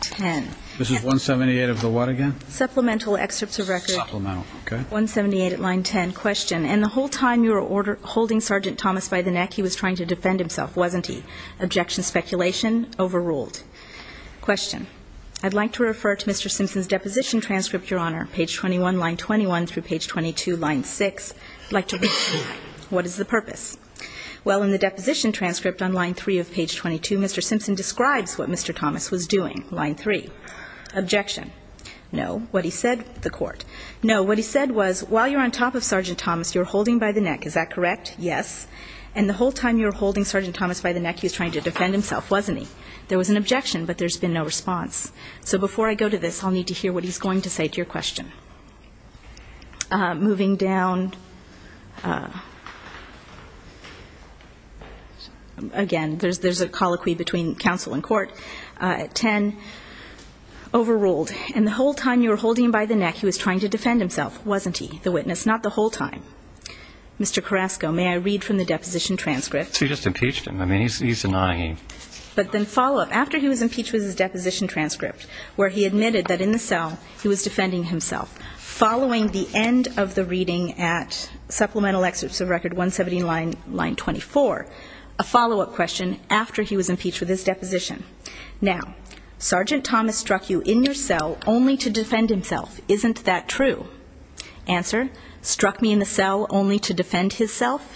10ó This is 178 of the what again? Supplemental excerpts of Recordó Supplemental, okay. 178 at line 10. Question. ìIn the whole time you were holding Sergeant Thomas by the neck, he was trying to defend himself, wasn't he? Objection. Speculation. Overruled.î Question. ìI'd like to refer to Mr. Simpson's deposition transcript you're on. Page 21, line 21 through page 22, line 6. I'd like toó What is the purpose? Well, in the deposition transcript on line 3 of page 22, Mr. Simpson describes what Mr. Thomas was doing. Line 3. Objection. No. What he saidóthe court. No. What he said was, ìWhile you're on top of Sergeant Thomas, you're holding by the neck.î Is that correct? Yes. ìAnd the whole time you were holding Sergeant Thomas by the neck, he was trying to defend himself, wasn't he?î There was an objection, but there's been no response. So before I go to this, I'll need to hear what he's going to say to your question. Moving down. Again, there's a colloquy between counsel and court. 10. ìOverruled. And the whole time you were holding him by the neck, he was trying to defend himself, wasn't he?î The witness. ìNot the whole time.î Mr. Carrasco, may I read from the deposition transcript? He just impeached him. I mean, he's denying anyó But then follow up. ìAfter he was impeached with his deposition transcript, where he admitted that in the cell he was defending himself. Following the end of the reading at supplemental excerpts of Record 117, Line 24, a follow-up question after he was impeached with his deposition. ìNow, Sergeant Thomas struck you in your cell only to defend himself. Isn't that true?î ìAnswer. Struck me in the cell only to defend himself?î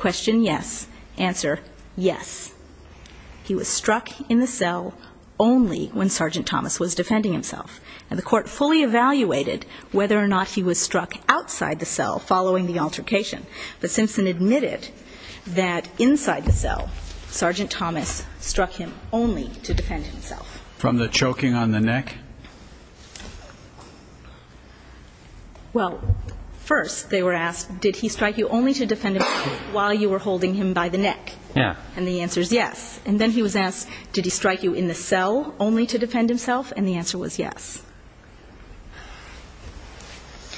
ìQuestion. Yes.î ìAnswer. Yes.î ìThe court found that he was struck in the cell only when Sergeant Thomas was defending himself. And the court fully evaluated whether or not he was struck outside the cell following the altercation. But Simpson admitted that inside the cell, Sergeant Thomas struck him only to defend himself.î From the choking on the neck? ìWell, first, they were asked, ìDid he strike you only to defend himself while you were holding him by the neck?î ìThe court was asked, ìDid he strike you in the cell only to defend himself?î ìAnd the answer was yes.î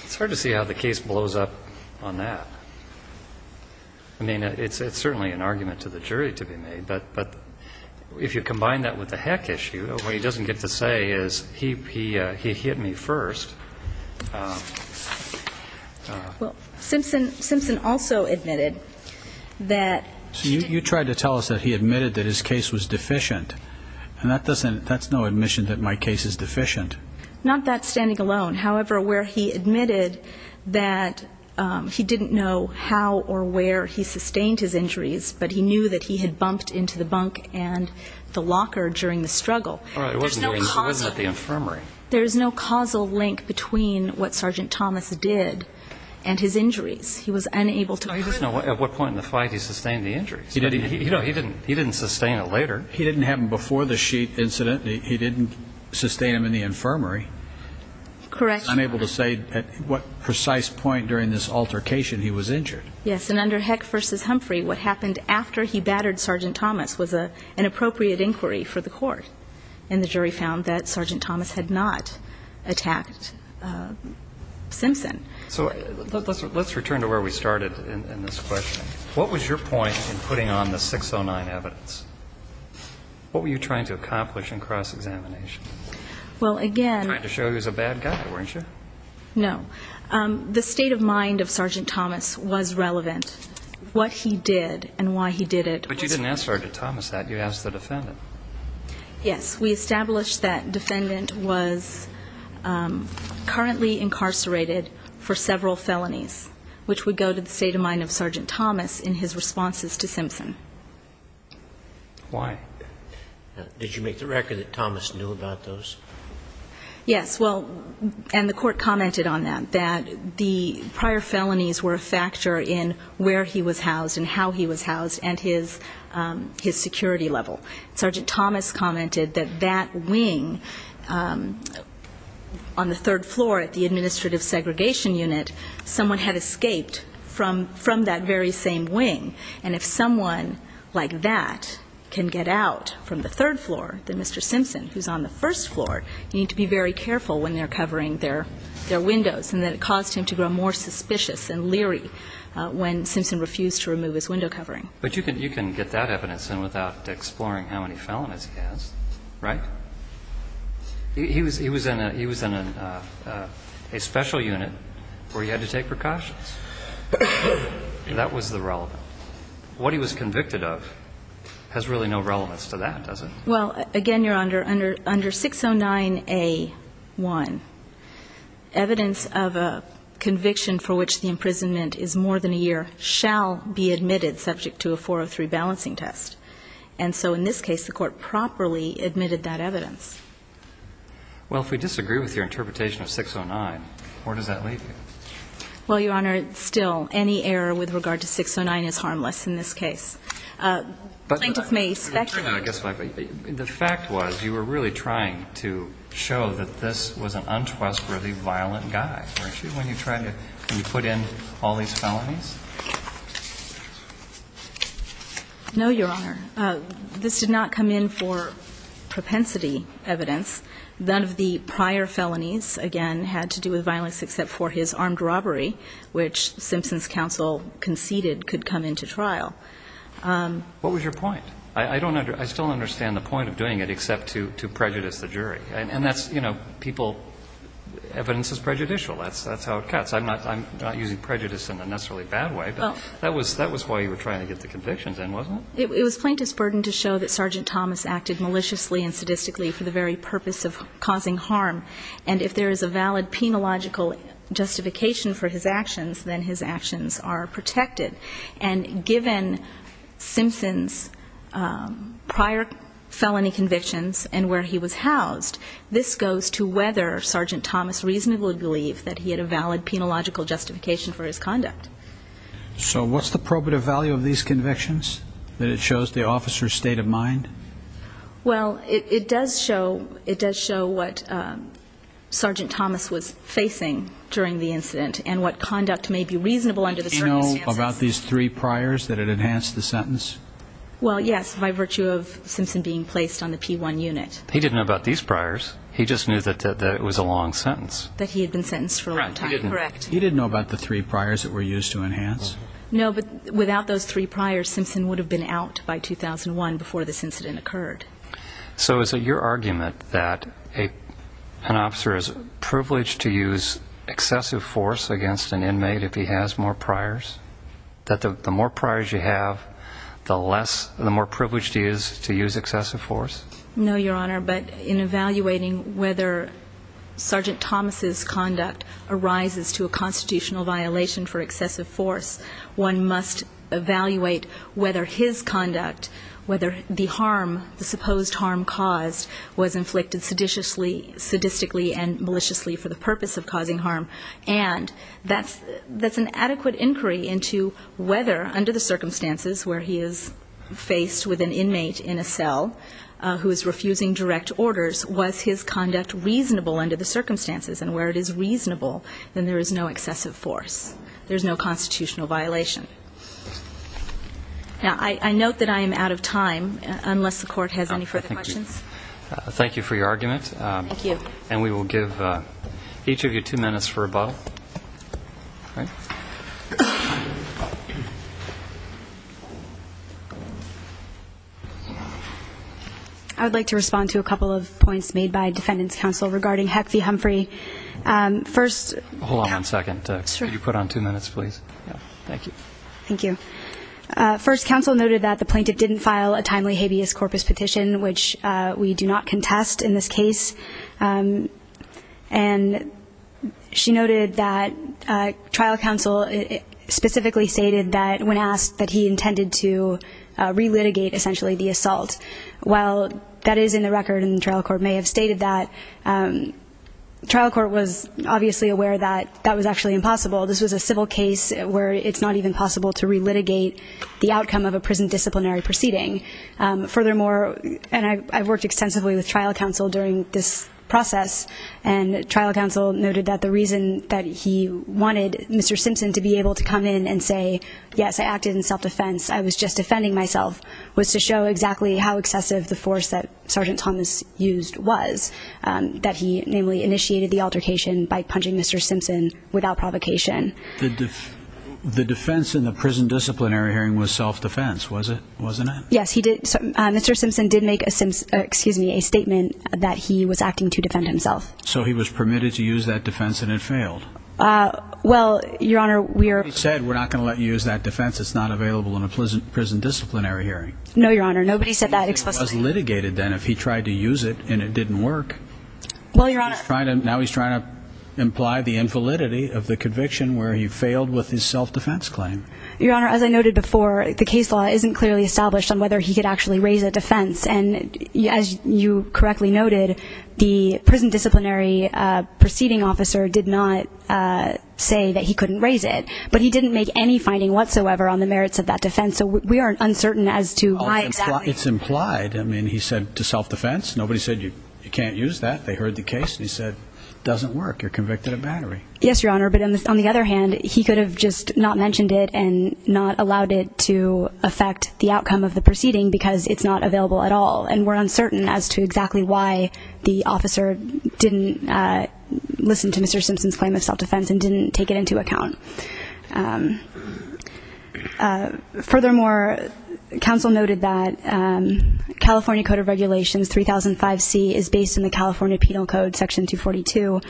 It's hard to see how the case blows up on that. I mean, it's certainly an argument to the jury to be made. But if you combine that with the heck issue, what he doesn't get to say is, ìHe hit me first.î ìWell, Simpson also admitted thatÖî So you tried to tell us that he admitted that his case was deficient. And that doesn't ñ that's no admission that my case is deficient. Not that standing alone. However, where he admitted that he didn't know how or where he sustained his injuries, but he knew that he had bumped into the bunk and the locker during the struggle. There's no causal link between what Sergeant Thomas did and his injuries. He was unable toÖ He doesn't know at what point in the fight he sustained the injuries. He didn't sustain it later. He didn't have them before the sheet incident. He didn't sustain them in the infirmary. Correct. He's unable to say at what precise point during this altercation he was injured. Yes. And under Heck v. Humphrey, what happened after he battered Sergeant Thomas was an appropriate inquiry for the court. And the jury found that Sergeant Thomas had not attacked Simpson. So let's return to where we started in this question. What was your point in putting on the 609 evidence? What were you trying to accomplish in cross-examination? Well, againÖ Trying to show he was a bad guy, weren't you? No. The state of mind of Sergeant Thomas was relevant. What he did and why he did it wasÖ But you didn't ask Sergeant Thomas that. You asked the defendant. Yes. We established that defendant was currently incarcerated for several felonies, which would go to the state of mind of Sergeant Thomas in his responses to Simpson. Why? Did you make the record that Thomas knew about those? Yes. Well, and the court commented on that, that the prior felonies were a factor in where he was housed and how he was housed and his security level. Sergeant Thomas commented that that wing on the third floor at the administrative segregation unit, someone had escaped from that very same wing. And if someone like that can get out from the third floor, then Mr. Simpson, who's on the first floor, you need to be very careful when they're covering their windows, and that it caused him to grow more suspicious and leery when Simpson refused to remove his window covering. But you can get that evidence in without exploring how many felonies he has, right? He was in a special unit where he had to take precautions. That was the relevant. What he was convicted of has really no relevance to that, does it? Well, again, Your Honor, under 609A1, evidence of a conviction for which the imprisonment is more than a year shall be admitted subject to a 403 balancing test. And so in this case, the court properly admitted that evidence. Well, if we disagree with your interpretation of 609, where does that leave me? Well, Your Honor, still, any error with regard to 609 is harmless in this case. Plaintiff may speculate. The fact was you were really trying to show that this was an untrustworthy, violent guy, weren't you, when you tried to put in all these felonies? No, Your Honor. This did not come in for propensity evidence. None of the prior felonies, again, had to do with violence except for his armed robbery, which Simpson's counsel conceded could come into trial. What was your point? I still don't understand the point of doing it except to prejudice the jury. And that's, you know, people, evidence is prejudicial. That's how it cuts. I'm not using prejudice in a necessarily bad way, but that was why you were trying to get the convictions in, wasn't it? It was Plaintiff's burden to show that Sergeant Thomas acted maliciously and sadistically for the very purpose of causing harm. And if there is a valid penological justification for his actions, then his actions are protected. And given Simpson's prior felony convictions and where he was housed, this goes to whether Sergeant Thomas reasonably believed that he had a valid penological justification for his conduct. So what's the probative value of these convictions, that it shows the officer's state of mind? Well, it does show what Sergeant Thomas was facing during the incident and what conduct may be reasonable under the circumstances. Did he know about these three priors that had enhanced the sentence? Well, yes, by virtue of Simpson being placed on the P1 unit. He didn't know about these priors. He just knew that it was a long sentence. That he had been sentenced for a long time. Correct. He didn't know about the three priors that were used to enhance? No, but without those three priors, Simpson would have been out by 2001 before this incident occurred. So is it your argument that an officer is privileged to use excessive force against an inmate if he has more priors? That the more priors you have, the more privileged he is to use excessive force? No, Your Honor. But in evaluating whether Sergeant Thomas' conduct arises to a constitutional violation for excessive force, one must evaluate whether his conduct, whether the harm, the supposed harm caused, was inflicted sadistically and maliciously for the purpose of causing harm. And that's an adequate inquiry into whether, under the circumstances where he is faced with an inmate in a cell who is refusing direct orders, was his conduct reasonable under the circumstances. And where it is reasonable, then there is no excessive force. There's no constitutional violation. Now, I note that I am out of time, unless the Court has any further questions. Thank you for your argument. Thank you. And we will give each of you two minutes for rebuttal. All right. I would like to respond to a couple of points made by defendants' counsel regarding Heck v. Humphrey. First, Hold on one second. Sure. Could you put on two minutes, please? Thank you. Thank you. First, counsel noted that the plaintiff didn't file a timely habeas corpus petition, which we do not contest in this case. And she noted that trial counsel specifically stated that when asked that he intended to relitigate, essentially, the assault. While that is in the record and the trial court may have stated that, trial court was obviously aware that that was actually impossible. This was a civil case where it's not even possible to relitigate the outcome of a prison disciplinary proceeding. Furthermore, and I've worked extensively with trial counsel during this process, and trial counsel noted that the reason that he wanted Mr. Simpson to be able to come in and say, yes, I acted in self-defense, I was just defending myself, was to show exactly how excessive the force that Sergeant Thomas used was, that he namely initiated the altercation by punching Mr. Simpson without provocation. The defense in the prison disciplinary hearing was self-defense, wasn't it? Yes, Mr. Simpson did make a statement that he was acting to defend himself. So he was permitted to use that defense and it failed? Well, Your Honor, we are He said we're not going to let you use that defense, it's not available in a prison disciplinary hearing. No, Your Honor, nobody said that explicitly. It was litigated then if he tried to use it and it didn't work. Well, Your Honor Now he's trying to imply the invalidity of the conviction where he failed with his self-defense claim. Your Honor, as I noted before, the case law isn't clearly established on whether he could actually raise a defense. And as you correctly noted, the prison disciplinary proceeding officer did not say that he couldn't raise it. But he didn't make any finding whatsoever on the merits of that defense. So we are uncertain as to why exactly It's implied. I mean, he said to self-defense. Nobody said you can't use that. They heard the case and he said it doesn't work. You're convicted of battery. Yes, Your Honor. But on the other hand, he could have just not mentioned it and not allowed it to affect the outcome of the proceeding because it's not available at all. And we're uncertain as to exactly why the officer didn't listen to Mr. Simpson's claim of self-defense and didn't take it into account. Furthermore, counsel noted that California Code of Regulations 3005C is based in the California Penal Code, Section 242.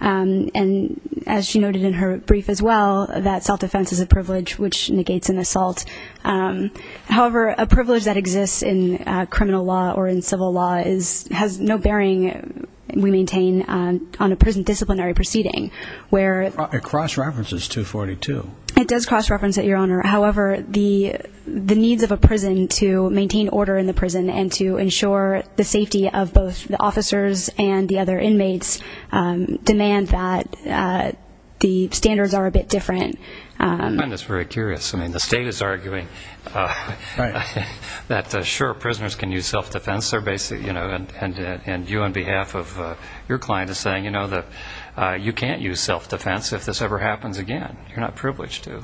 And as she noted in her brief as well, that self-defense is a privilege which negates an assault. However, a privilege that exists in criminal law or in civil law has no bearing, we maintain, on a prison disciplinary proceeding. It cross-references 242. It does cross-reference it, Your Honor. However, the needs of a prison to maintain order in the prison and to ensure the safety of both the officers and the other inmates demand that the standards are a bit different. I find this very curious. I mean, the state is arguing that, sure, prisoners can use self-defense. They're basically, you know, and you on behalf of your client are saying, you know, that you can't use self-defense if this ever happens again. You're not privileged to.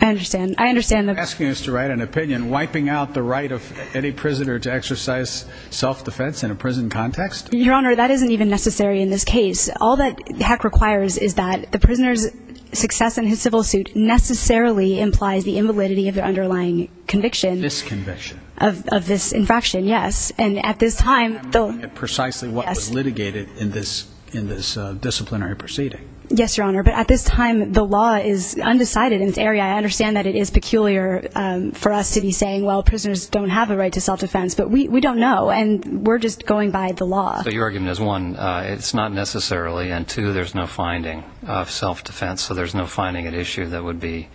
I understand. I understand. You're asking us to write an opinion wiping out the right of any prisoner to exercise self-defense in a prison context? Your Honor, that isn't even necessary in this case. All that Heck requires is that the prisoner's success in his civil suit necessarily implies the invalidity of the underlying conviction. This conviction. Of this infraction, yes. And at this time, though. I'm not getting precisely what was litigated in this disciplinary proceeding. Yes, Your Honor. But at this time, the law is undecided in this area. I understand that it is peculiar for us to be saying, well, prisoners don't have a right to self-defense. But we don't know. And we're just going by the law. So your argument is, one, it's not necessarily, and two, there's no finding of self-defense. So there's no finding at issue that would be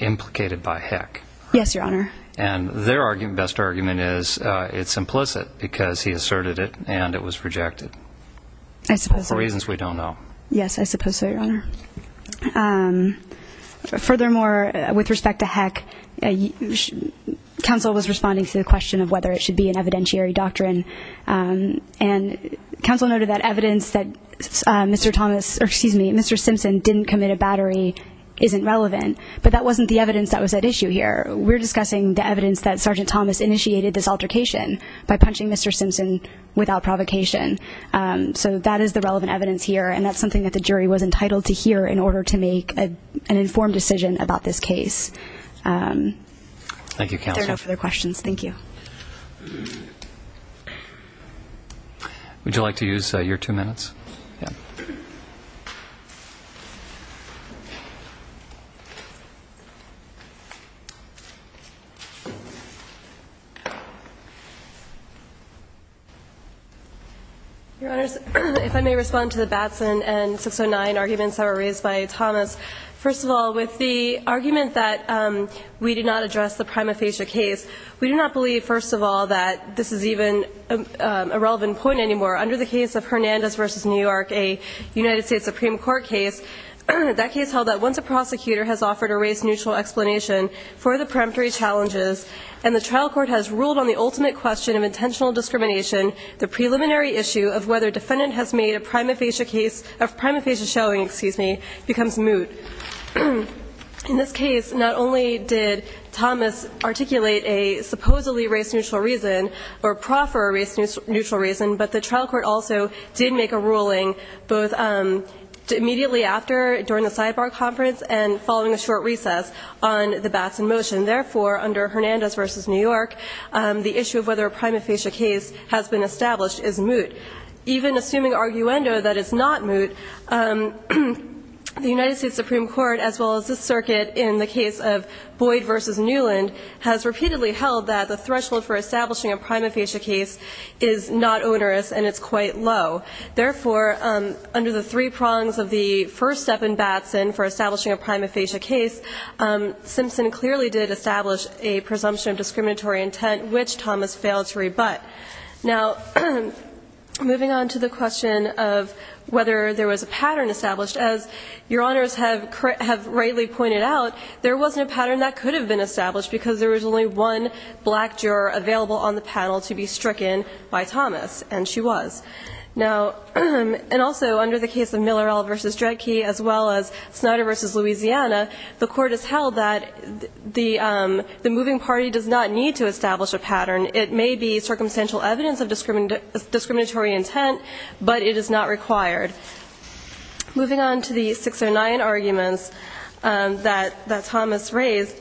implicated by Heck. Yes, Your Honor. And their best argument is it's implicit because he asserted it and it was rejected. I suppose so. For reasons we don't know. Yes, I suppose so, Your Honor. Furthermore, with respect to Heck, counsel was responding to the question of whether it should be an evidentiary doctrine. And counsel noted that evidence that Mr. Thomas or, excuse me, Mr. Simpson didn't commit a battery isn't relevant. But that wasn't the evidence that was at issue here. We're discussing the evidence that Sergeant Thomas initiated this altercation by punching Mr. Simpson without provocation. So that is the relevant evidence here. And that's something that the jury was entitled to hear in order to make an informed decision about this case. Thank you, counsel. If there are no further questions, thank you. Would you like to use your two minutes? Yeah. Your Honors, if I may respond to the Batson and 609 arguments that were raised by Thomas. First of all, with the argument that we did not address the prima facie case, we do not believe, first of all, that this is even a relevant point anymore. Under the case of Hernandez v. New York, a United States Supreme Court case, that case held that once a prosecutor has offered a race-neutral explanation for the peremptory challenges and the trial court has ruled on the ultimate question of intentional discrimination, the preliminary issue of whether a defendant has made a prima facie showing becomes moot. In this case, not only did Thomas articulate a supposedly race-neutral reason or proffer a race-neutral reason, but the trial court also did make a ruling both immediately after, during the sidebar conference, and following a short recess on the Batson motion. Therefore, under Hernandez v. New York, the issue of whether a prima facie case has been established is moot. Even assuming arguendo that it's not moot, the United States Supreme Court, as well as this circuit in the case of Boyd v. Newland, has repeatedly held that the threshold for establishing a prima facie case is not onerous and it's quite low. Therefore, under the three prongs of the first step in Batson for establishing a prima facie case, Simpson clearly did establish a presumption of discriminatory intent, which Thomas failed to rebut. Now, moving on to the question of whether there was a pattern established, as Your Honors have rightly pointed out, there wasn't a pattern that could have been established because there was only one black juror available on the panel to be stricken by Thomas, and she was. Now, and also under the case of Millerall v. Dredke, as well as Snyder v. Louisiana, the Court has held that the moving party does not need to establish a pattern. It may be circumstantial evidence of discriminatory intent, but it is not required. Moving on to the 609 arguments that Thomas raised,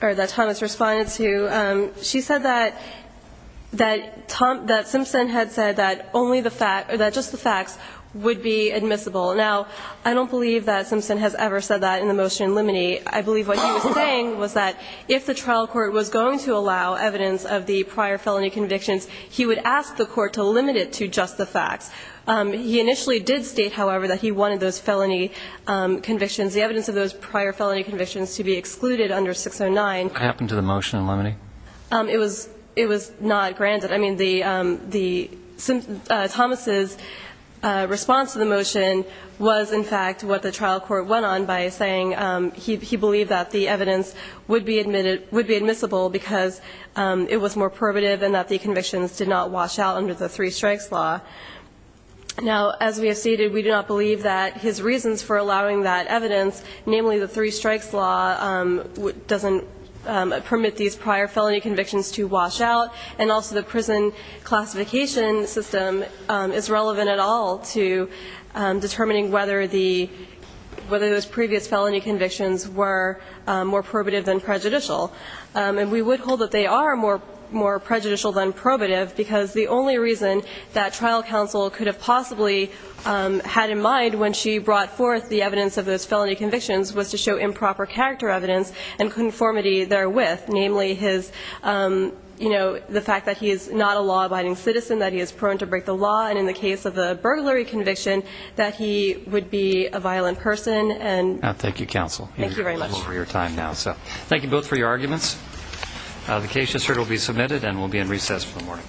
or that Thomas responded to, she said that Simpson had said that only the fact, or that just the facts, would be admissible. Now, I don't believe that Simpson has ever said that in the motion in limine. I believe what he was saying was that if the trial court was going to allow evidence of the prior felony convictions, he would ask the court to limit it to just the facts. He initially did state, however, that he wanted those felony convictions, the evidence of those prior felony convictions, to be excluded under 609. What happened to the motion in limine? It was not granted. I mean, Thomas' response to the motion was, in fact, what the trial court went on by saying he believed that the evidence would be admissible because it was more probative and that the convictions did not wash out under the three-strikes law. Now, as we have stated, we do not believe that his reasons for allowing that evidence, namely the three-strikes law doesn't permit these prior felony convictions to wash out, and also the prison classification system is relevant at all to determining whether those previous felony convictions were more probative than prejudicial. And we would hold that they are more prejudicial than probative because the only reason that trial counsel could have possibly had in mind when she brought forth the evidence of those felony convictions was to show improper character evidence and conformity therewith, namely the fact that he is not a law-abiding citizen, that he is prone to break the law, and in the case of a burglary conviction, that he would be a violent person. Thank you, counsel. Thank you very much. You have a little over your time now. Thank you both for your arguments. The case just heard will be submitted and will be in recess for the morning.